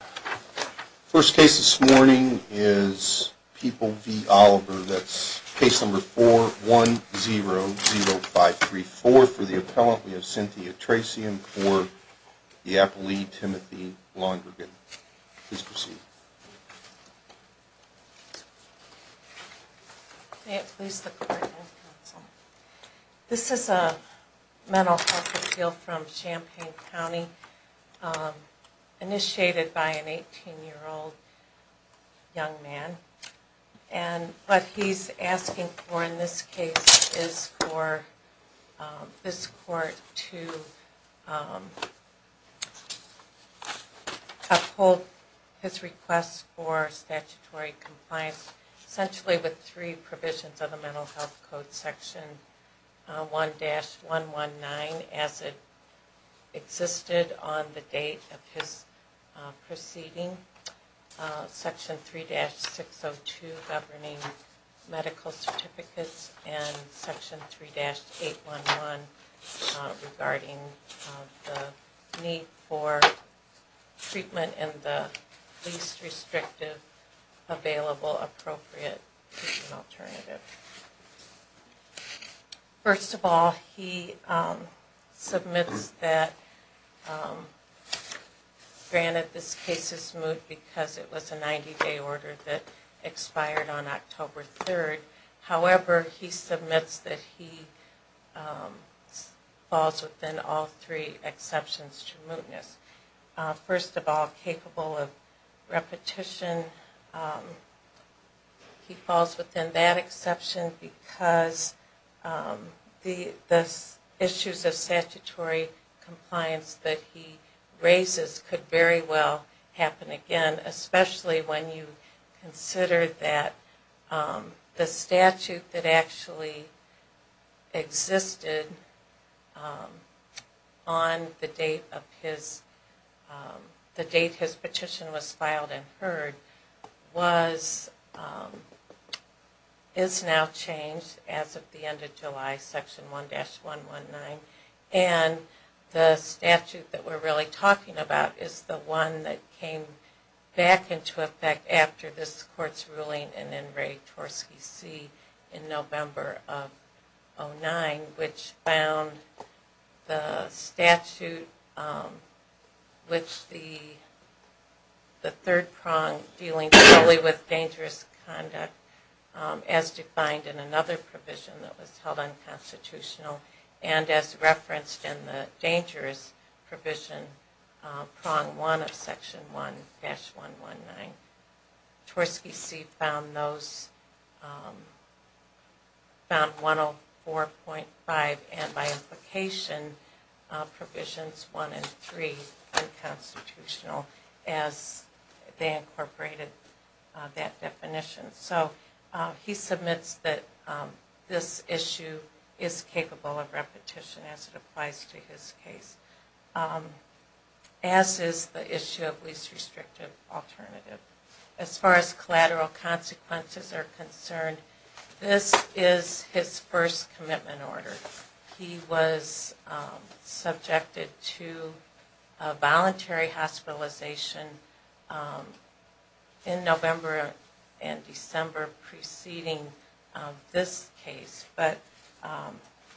The first case this morning is People v. Oliver, that's case number 4-1-0-0-5-3-4 for the appellant we have Cynthia Tracy and for the appellee, Timothy Londrigan. Please proceed. May it please the court and counsel. This is a mental health appeal from Champaign County initiated by an 18-year-old young man. And what he's asking for in this case is for this court to uphold his request for statutory compliance essentially with three provisions of the Mental Health Code, Section 1-119 as it existed on the date of his proceeding, Section 3-602 governing medical certificates, and Section 3-811 regarding the need for treatment in the least restrictive available appropriate treatment alternative. First of all, he submits that, granted this case is moot because it was a 90-day order that expired on October 3rd. However, he submits that he falls within all three exceptions to mootness. First of all, capable of repetition, he falls within that exception because the issues of statutory compliance that he raises could very well happen again, especially when you consider that the statute that actually existed on the date his petition was filed and heard is now changed as of the end of July, Section 1-119. And the statute that we're really talking about is the one that came back into effect after this court's ruling in N. Ray Tversky C. in November of 2009, which found the statute which the third prong dealing solely with dangerous conduct as defined in another provision that was held unconstitutional and as referenced in the dangerous provision prong 1 of Section 1-119. Tversky C. found those, found 104.5 and by implication provisions 1 and 3 unconstitutional as they incorporated that definition. So he submits that this issue is capable of repetition as it applies to his case, as is the issue of least restrictive alternative. As far as collateral consequences are concerned, this is his first commitment order. He was subjected to voluntary hospitalization in November and December preceding this case, but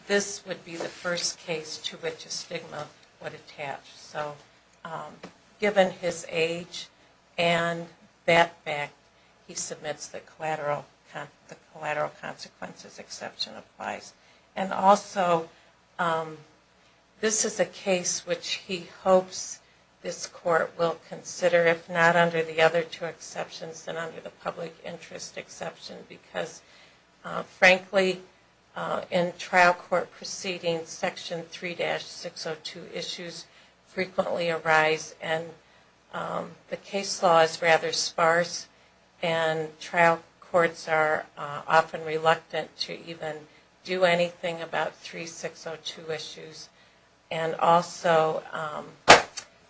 this would be the first case to which a stigma would attach. So given his age and that fact, he submits that collateral consequences exception applies. And also, this is a case which he hopes this court will consider, if not under the other two exceptions, then under the public interest exception. Because frankly, in trial court proceedings, Section 3-602 issues frequently arise and the case law is rather sparse and trial courts are often reluctant to even do anything about 3602 issues. And also,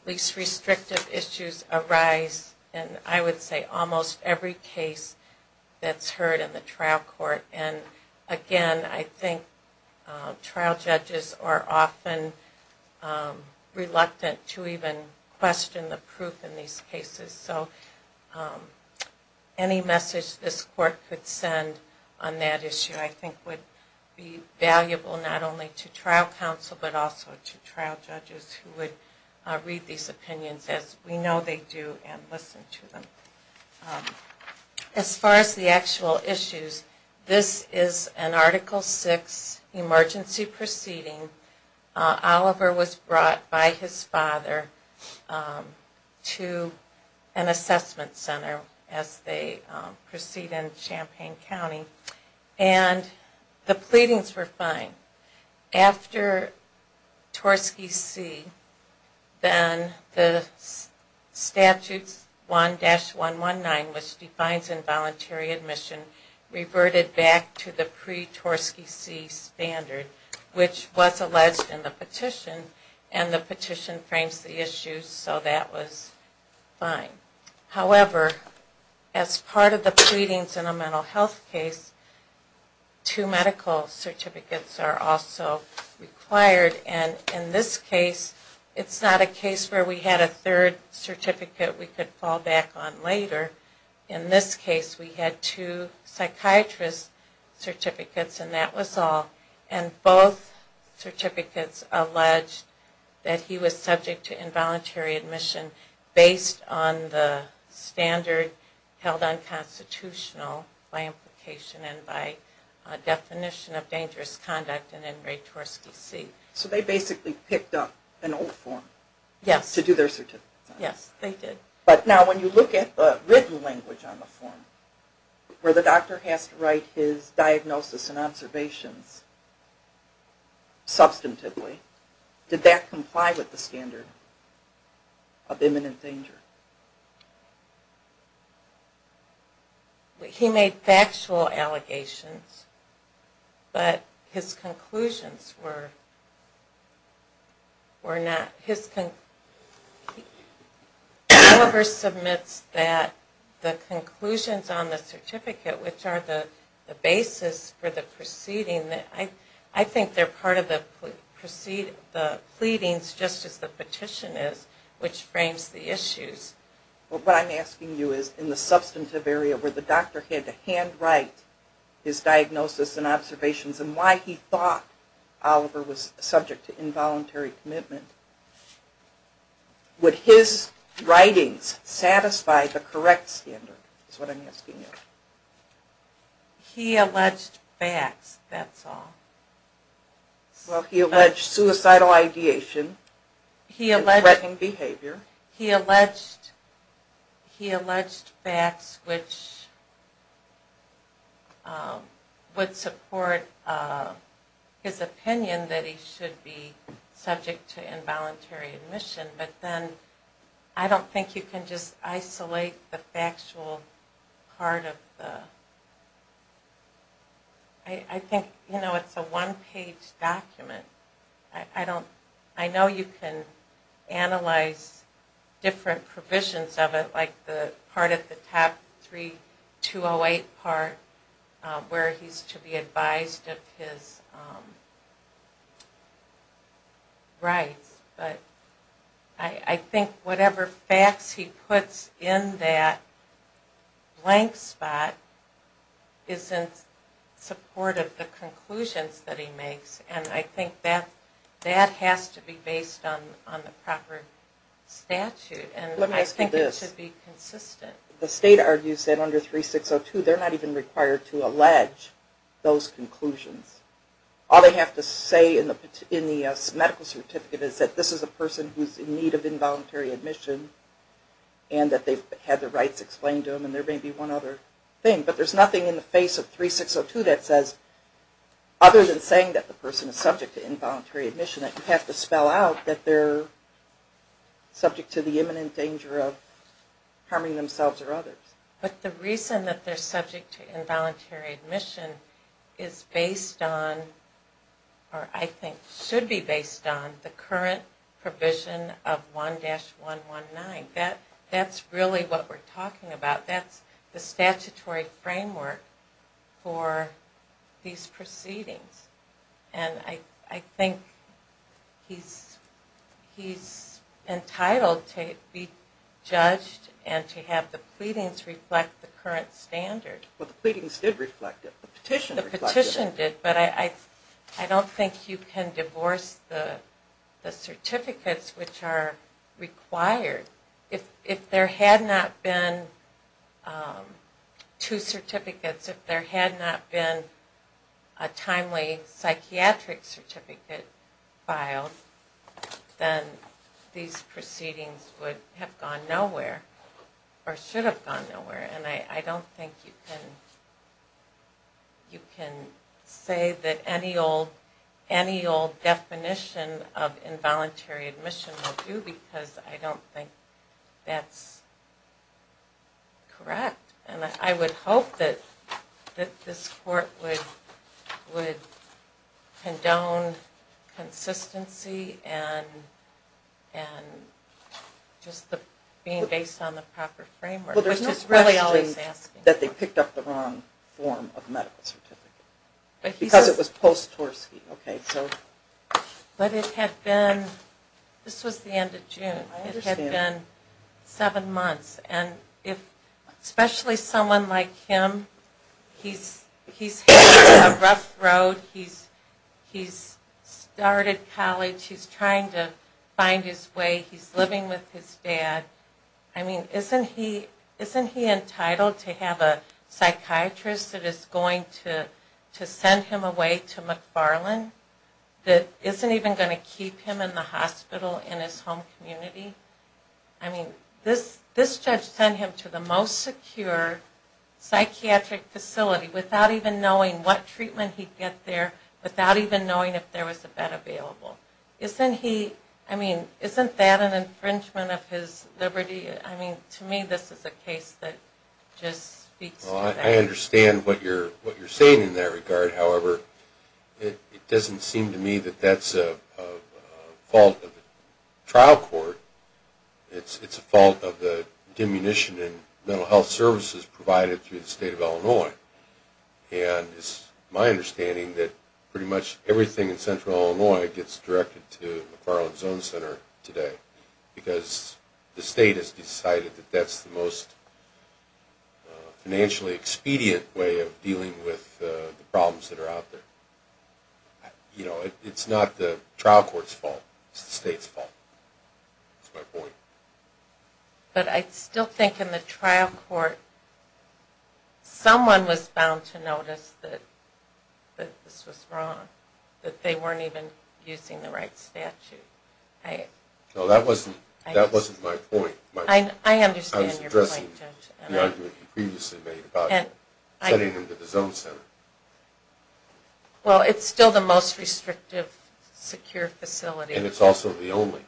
least restrictive issues arise in, I would say, almost every case that's heard in the trial court. And again, I think trial judges are often reluctant to even question the proof in these cases. So any message this court could send on that issue I think would be valuable not only to trial counsel, but also to trial judges who would read these opinions as we know they do and listen to them. As far as the actual issues, this is an Article 6 emergency proceeding. Oliver was brought by his father to an assessment center as they proceed in Champaign County and the pleadings were fine. After Torski C, then the Statute 1-119, which defines involuntary admission, reverted back to the pre-Torski C standard, which was alleged in the petition and the petition frames the issue so that was fine. However, as part of the pleadings in a mental health case, two medical certificates are also required. And in this case, it's not a case where we had a third certificate we could fall back on later. In this case, we had two psychiatrist certificates and that was all. And both certificates alleged that he was subject to involuntary admission based on the standard held unconstitutional by implication and by definition of dangerous conduct in a Torski C. So they basically picked up an old form to do their certificates on? Yes, they did. But now when you look at the written language on the form, where the doctor has to write his diagnosis and observations substantively, did that comply with the standard of imminent danger? He made factual allegations, but his conclusions were not. Oliver submits that the conclusions on the certificate, which are the basis for the proceeding, I think they're part of the pleadings just as the petition is, which frames the issues. But what I'm asking you is, in the substantive area where the doctor had to hand write his diagnosis and observations and why he thought Oliver was subject to involuntary commitment, would his writings satisfy the correct standard is what I'm asking you? He alleged facts, that's all. Well, he alleged suicidal ideation and threatening behavior. He alleged facts which would support his opinion that he should be subject to involuntary admission, but then I don't think you can just isolate the factual part of the... I think, you know, it's a one page document. And I think that has to be based on the proper statute and I think it should be consistent. The state argues that under 3602 they're not even required to allege those conclusions. All they have to say in the medical certificate is that this is a person who's in need of involuntary admission and that they've had their rights explained to them and there may be one other thing. But there's nothing in the face of 3602 that says, other than saying that the person is subject to involuntary admission, that you have to spell out that they're subject to the imminent danger of harming themselves or others. But the reason that they're subject to involuntary admission is based on, or I think should be based on the current provision of 1-119. That's really what we're talking about. That's the statutory framework for these proceedings. And I think he's entitled to be judged and to have the pleadings reflect the current standard. Well, the pleadings did reflect it. The petition reflected it. But I don't think you can divorce the certificates which are required. If there had not been two certificates, if there had not been a timely psychiatric certificate filed, then these proceedings would have gone nowhere or should have gone nowhere. And I don't think you can say that any old definition of involuntary admission will do because I don't think that's correct. And I would hope that this court would condone consistency and just being based on the proper framework. Well, there's no question that they picked up the wrong form of medical certificate. Because it was post-Torski. But it had been, this was the end of June, it had been seven months. And especially someone like him, he's had a rough road, he's started college, he's trying to find his way, he's living with his dad. I mean, isn't he entitled to have a psychiatrist that is going to send him away to McFarland that isn't even going to keep him in the hospital in his home community? I mean, this judge sent him to the most secure psychiatric facility without even knowing what treatment he'd get there, without even knowing if there was a bed available. Isn't he, I mean, isn't that an infringement of his liberty? I mean, to me this is a case that just speaks to that. Well, I understand what you're saying in that regard. However, it doesn't seem to me that that's a fault of the trial court. It's a fault of the diminution in mental health services provided through the state of Illinois. And it's my understanding that pretty much everything in central Illinois gets directed to the McFarland Zone Center today. Because the state has decided that that's the most financially expedient way of dealing with the problems that are out there. You know, it's not the trial court's fault, it's the state's fault. That's my point. But I still think in the trial court, someone was bound to notice that this was wrong. That they weren't even using the right statute. No, that wasn't my point. I understand your point, Judge. I was addressing the argument you previously made about sending him to the Zone Center. Well, it's still the most restrictive, secure facility. And it's also the only.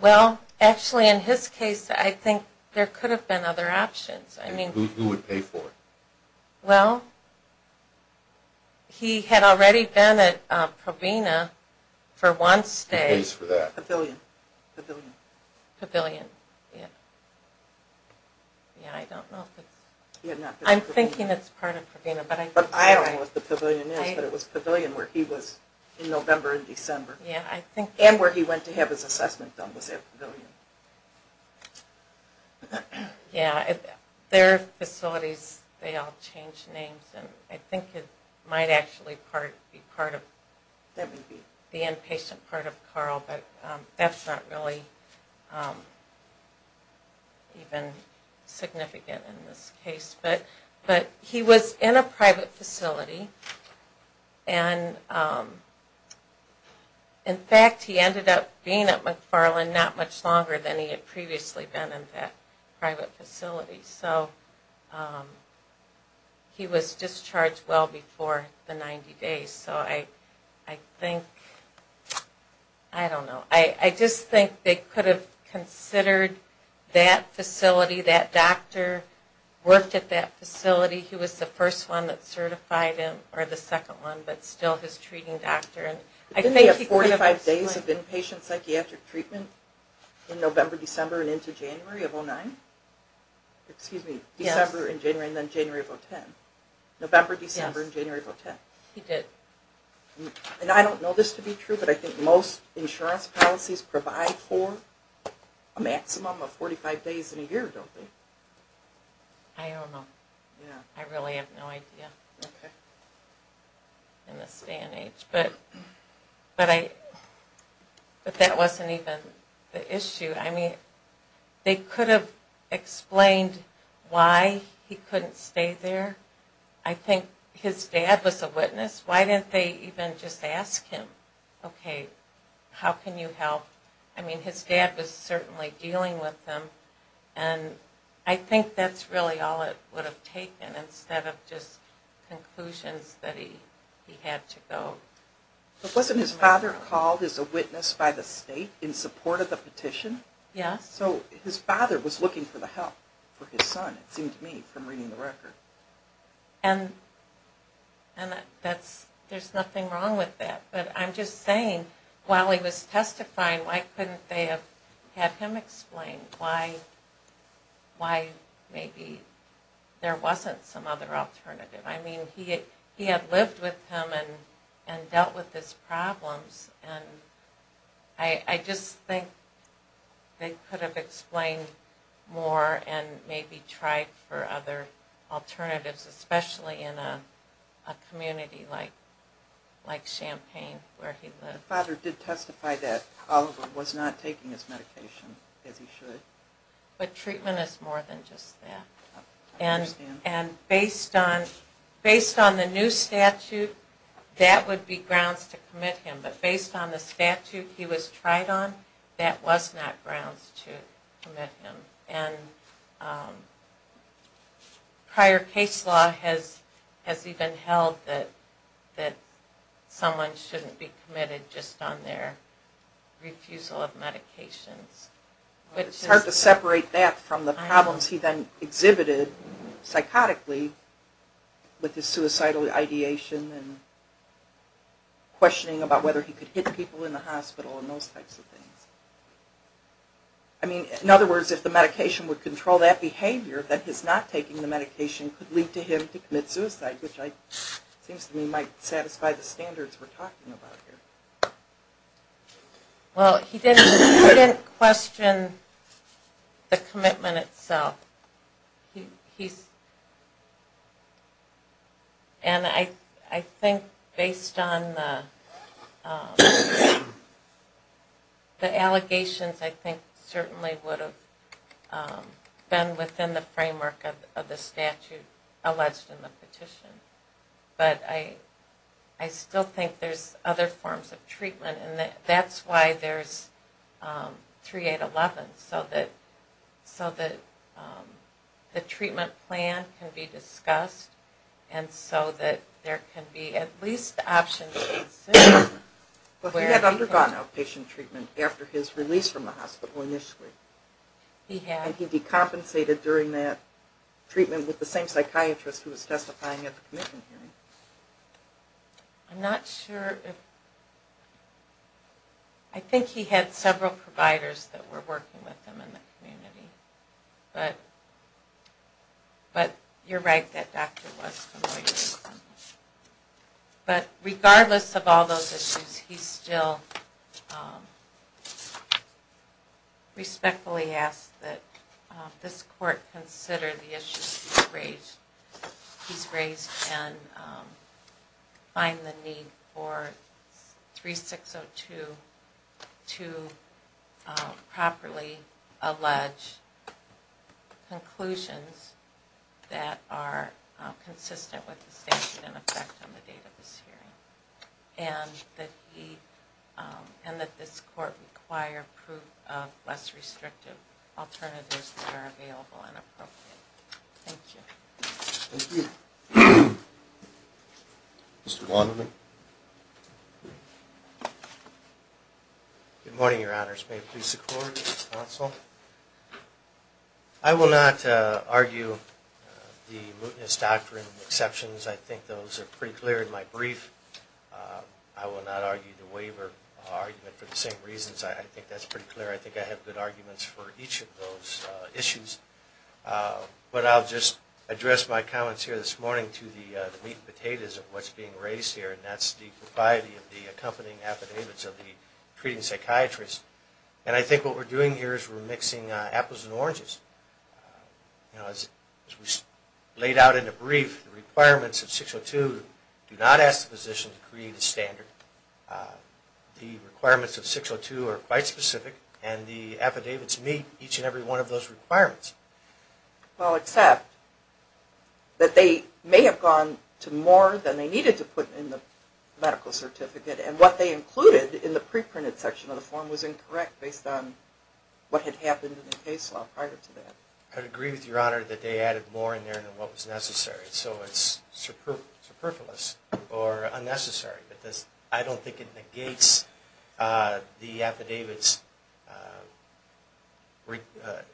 Well, actually in his case, I think there could have been other options. Who would pay for it? Well, he had already been at Provena for one stay. Who pays for that? Pavilion. Pavilion, yeah. Yeah, I don't know. I'm thinking it's part of Provena. But I don't know what the Pavilion is. But it was Pavilion where he was in November and December. Yeah, I think. And where he went to have his assessment done was at Pavilion. Yeah, their facilities, they all change names. And I think it might actually be part of the inpatient part of Carl. But that's not really even significant in this case. But he was in a private facility. And, in fact, he ended up being at McFarland not much longer than he had previously been in that private facility. So he was discharged well before the 90 days. So I think, I don't know. I just think they could have considered that facility. That doctor worked at that facility. He was the first one that certified him, or the second one, but still his treating doctor. Didn't he have 45 days of inpatient psychiatric treatment in November, December, and into January of 2009? Excuse me, December and January, and then January of 2010. November, December, and January of 2010. He did. And I don't know this to be true, but I think most insurance policies provide for a maximum of 45 days in a year, don't they? I don't know. I really have no idea in this day and age. But that wasn't even the issue. I mean, they could have explained why he couldn't stay there. I think his dad was a witness. Why didn't they even just ask him, okay, how can you help? I mean, his dad was certainly dealing with him. And I think that's really all it would have taken instead of just conclusions that he had to go. But wasn't his father called as a witness by the state in support of the petition? Yes. So his father was looking for the help for his son, it seemed to me, from reading the record. And there's nothing wrong with that. But I'm just saying, while he was testifying, why couldn't they have had him explain why maybe there wasn't some other alternative? I mean, he had lived with him and dealt with his problems. And I just think they could have explained more and maybe tried for other alternatives, especially in a community like Champaign where he lived. His father did testify that Oliver was not taking his medication as he should. But treatment is more than just that. And based on the new statute, that would be grounds to commit him. But based on the statute he was tried on, that was not grounds to commit him. And prior case law has even held that someone shouldn't be committed just on their refusal of medications. But it's hard to separate that from the problems he then exhibited psychotically with his suicidal ideation and questioning about whether he could hit people in the hospital and those types of things. I mean, in other words, if the medication would control that behavior, that his not taking the medication could lead to him to commit suicide, which seems to me might satisfy the standards we're talking about here. Well, he didn't question the commitment itself. And I think based on the allegations, I think certainly would have been within the framework of the statute alleged in the petition. But I still think there's other forms of treatment. And that's why there's 3811, so that the treatment plan can be discussed and so that there can be at least options. But he had undergone outpatient treatment after his release from the hospital initially. He had. And he decompensated during that treatment with the same psychiatrist who was testifying at the commission hearing. I'm not sure if... I think he had several providers that were working with him in the community. But you're right that doctor was familiar with him. But regardless of all those issues, he still respectfully asks that this court consider the issues he's raised and find the need for 3602 to properly allege conclusions that are consistent with the statute in effect on the date of this hearing. And that this court require proof of less restrictive alternatives that are available and appropriate. Thank you. Thank you. Mr. Wonderman? Good morning, Your Honors. May it please the court and the counsel. I will not argue the mootness doctrine exceptions. I think those are pretty clear in my brief. I will not argue the waiver argument for the same reasons. I think that's pretty clear. I think I have good arguments for each of those issues. And that's the propriety of the accompanying affidavits of the treating psychiatrist. And I think what we're doing here is we're mixing apples and oranges. As we laid out in the brief, the requirements of 602 do not ask the physician to create a standard. The requirements of 602 are quite specific. And the affidavits meet each and every one of those requirements. Well, except that they may have gone to more than they needed to put in the medical certificate. And what they included in the pre-printed section of the form was incorrect based on what had happened in the case law prior to that. I would agree with Your Honor that they added more in there than what was necessary. So it's superfluous or unnecessary. I don't think it negates the affidavits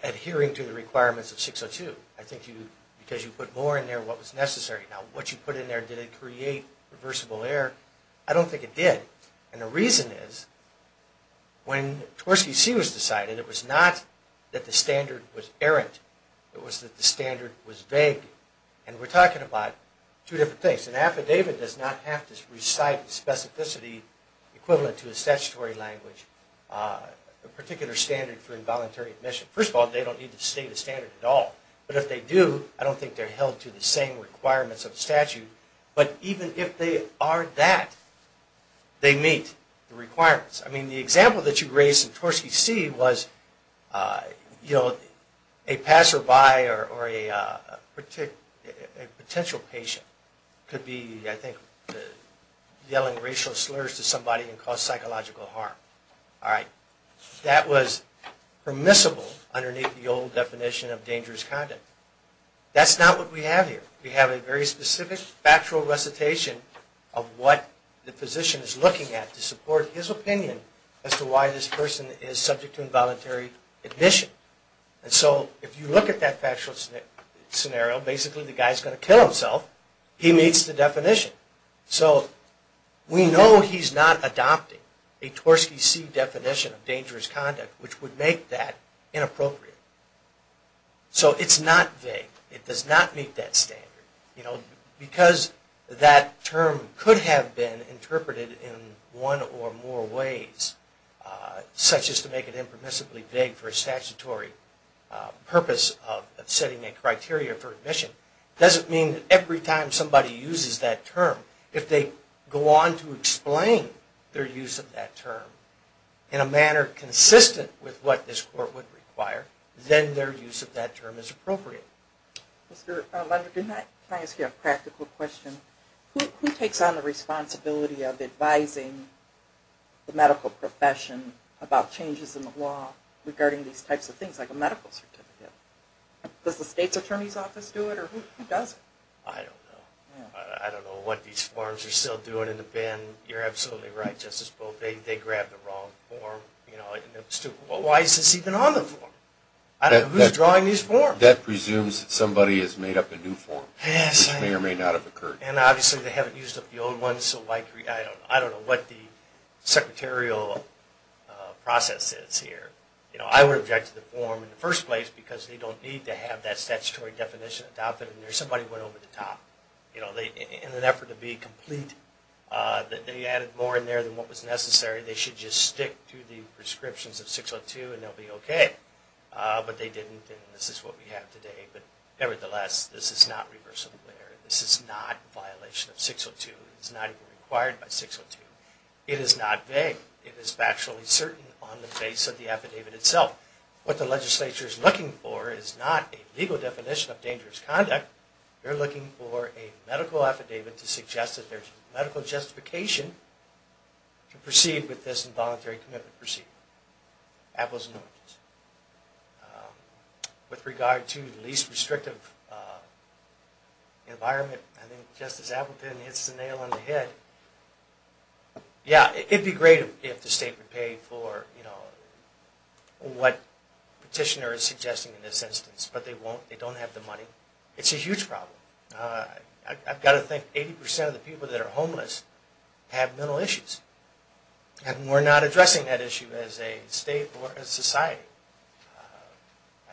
adhering to the requirements of 602. I think because you put more in there than what was necessary. Now, what you put in there, did it create reversible error? I don't think it did. And the reason is when Tversky C was decided, it was not that the standard was errant. It was that the standard was vague. And we're talking about two different things. An affidavit does not have to recite the specificity equivalent to a statutory language, a particular standard for involuntary admission. First of all, they don't need to state a standard at all. But if they do, I don't think they're held to the same requirements of statute. But even if they are that, they meet the requirements. I mean, the example that you raised in Tversky C was, you know, a passerby or a potential patient could be, I think, yelling racial slurs to somebody and cause psychological harm. All right. That was permissible underneath the old definition of dangerous conduct. That's not what we have here. We have a very specific factual recitation of what the physician is looking at to support his opinion as to why this person is subject to involuntary admission. And so if you look at that factual scenario, basically the guy's going to kill himself. He meets the definition. So we know he's not adopting a Tversky C definition of dangerous conduct, which would make that inappropriate. So it's not vague. It does not meet that standard. Because that term could have been interpreted in one or more ways, such as make it impermissibly vague for a statutory purpose of setting a criteria for admission. It doesn't mean that every time somebody uses that term, if they go on to explain their use of that term in a manner consistent with what this court would require, then their use of that term is appropriate. Mr. Lunder, can I ask you a practical question? Who takes on the responsibility of advising the medical profession about changes in the law regarding these types of things, like a medical certificate? Does the state's attorney's office do it, or who does it? I don't know. I don't know what these forms are still doing in the bin. You're absolutely right, Justice Booth. They grabbed the wrong form. Why is this even on the form? Who's drawing these forms? That presumes somebody has made up a new form, which may or may not have occurred. And obviously they haven't used up the old one, so I don't know what the process is here. I would object to the form in the first place, because they don't need to have that statutory definition adopted in there. Somebody went over the top. In an effort to be complete, they added more in there than what was necessary. They should just stick to the prescriptions of 602, and they'll be okay. But they didn't, and this is what we have today. But nevertheless, this is not reversible error. This is not a violation of 602. It's not even required by 602. It is not vague. It is factually certain on the face of the affidavit itself. What the legislature is looking for is not a legal definition of dangerous conduct. They're looking for a medical affidavit to suggest that there's medical justification to proceed with this involuntary commitment procedure. Apples and oranges. With regard to the least restrictive environment, I think Justice Appleton hits the nail on the head. Yeah, it would be great if the state would pay for, you know, what petitioner is suggesting in this instance. But they won't. They don't have the money. It's a huge problem. I've got to think 80% of the people that are homeless have mental issues. And we're not addressing that issue as a state or a society.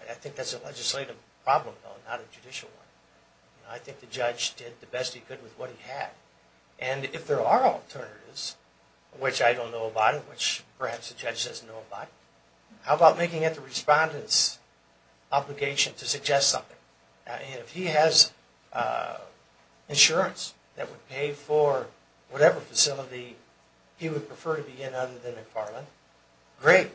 I think that's a legislative problem, though, not a judicial one. I think the judge did the best he could with what he had. And if there are alternatives, which I don't know about and which perhaps the judge doesn't know about, how about making it the respondent's obligation to suggest something? If he has insurance that would pay for whatever facility he would prefer to be in other than McFarland, great.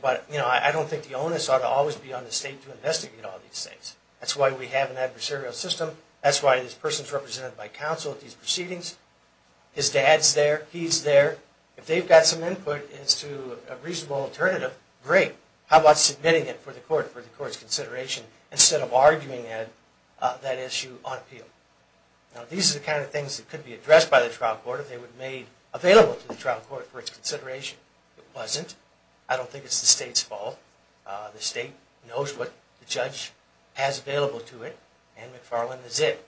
But, you know, I don't think the onus ought to always be on the state to investigate all these things. That's why we have an adversarial system. That's why this person is represented by counsel at these proceedings. His dad's there. He's there. If they've got some input as to a reasonable alternative, great. How about submitting it for the court, for the court's consideration, instead of arguing that issue on appeal? Now, these are the kind of things that could be addressed by the trial court if they were made available to the trial court for its consideration. If it wasn't, I don't think it's the state's fault. The state knows what the judge has available to it. And McFarland is it.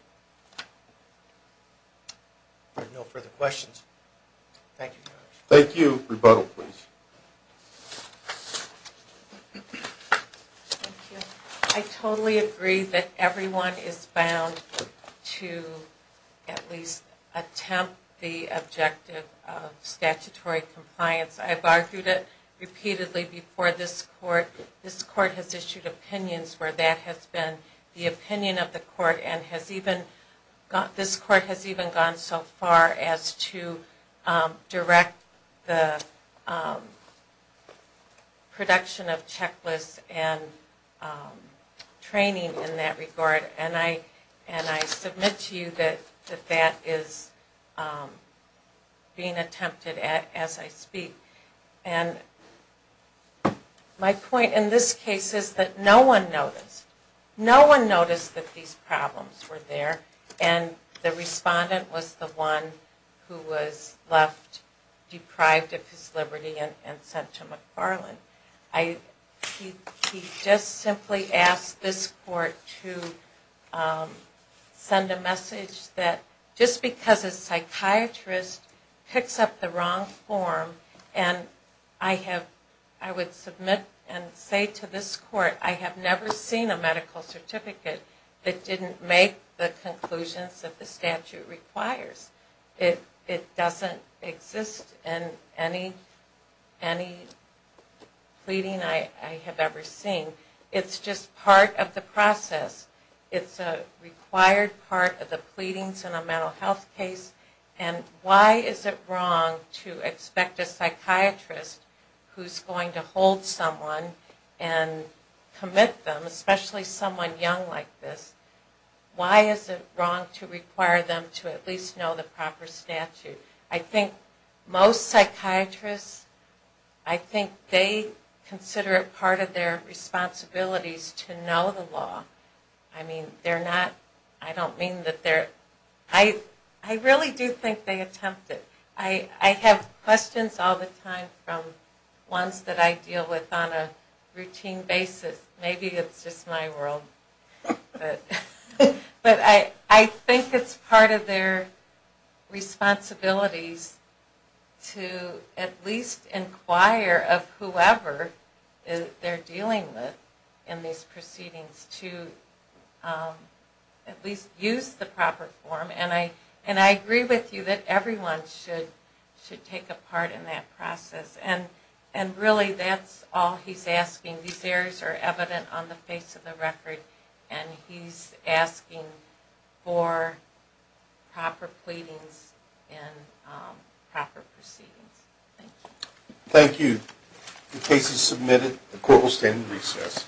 There are no further questions. Thank you very much. Thank you. Rebuttal, please. I totally agree that everyone is bound to at least attempt the objective of statutory compliance. I've argued it repeatedly before this court. This court has issued opinions where that has been the opinion of the court and this court has even gone so far as to direct the production of checklists and training in that regard. And I submit to you that that is being attempted as I speak. And my point in this case is that no one noticed. No one noticed that these problems were there. And the respondent was the one who was left deprived of his liberty and sent to McFarland. He just simply asked this court to send a message that just because a And I would submit and say to this court, I have never seen a medical certificate that didn't make the conclusions that the statute requires. It doesn't exist in any pleading I have ever seen. It's just part of the process. It's a required part of the pleadings in a mental health case. And why is it wrong to expect a psychiatrist who's going to hold someone and commit them, especially someone young like this, why is it wrong to require them to at least know the proper statute? I think most psychiatrists, I think they consider it part of their responsibilities to know the law. I mean, they're not, I don't mean that they're, I really do think they attempt it. I have questions all the time from ones that I deal with on a routine basis. Maybe it's just my world. But I think it's part of their responsibilities to at least inquire of whoever they're dealing with in these proceedings to at least use the proper form. And I agree with you that everyone should take a part in that process. And really that's all he's asking. These areas are evident on the face of the record. And he's asking for proper pleadings and proper proceedings. Thank you. Thank you. The case is submitted. The court will stand in recess.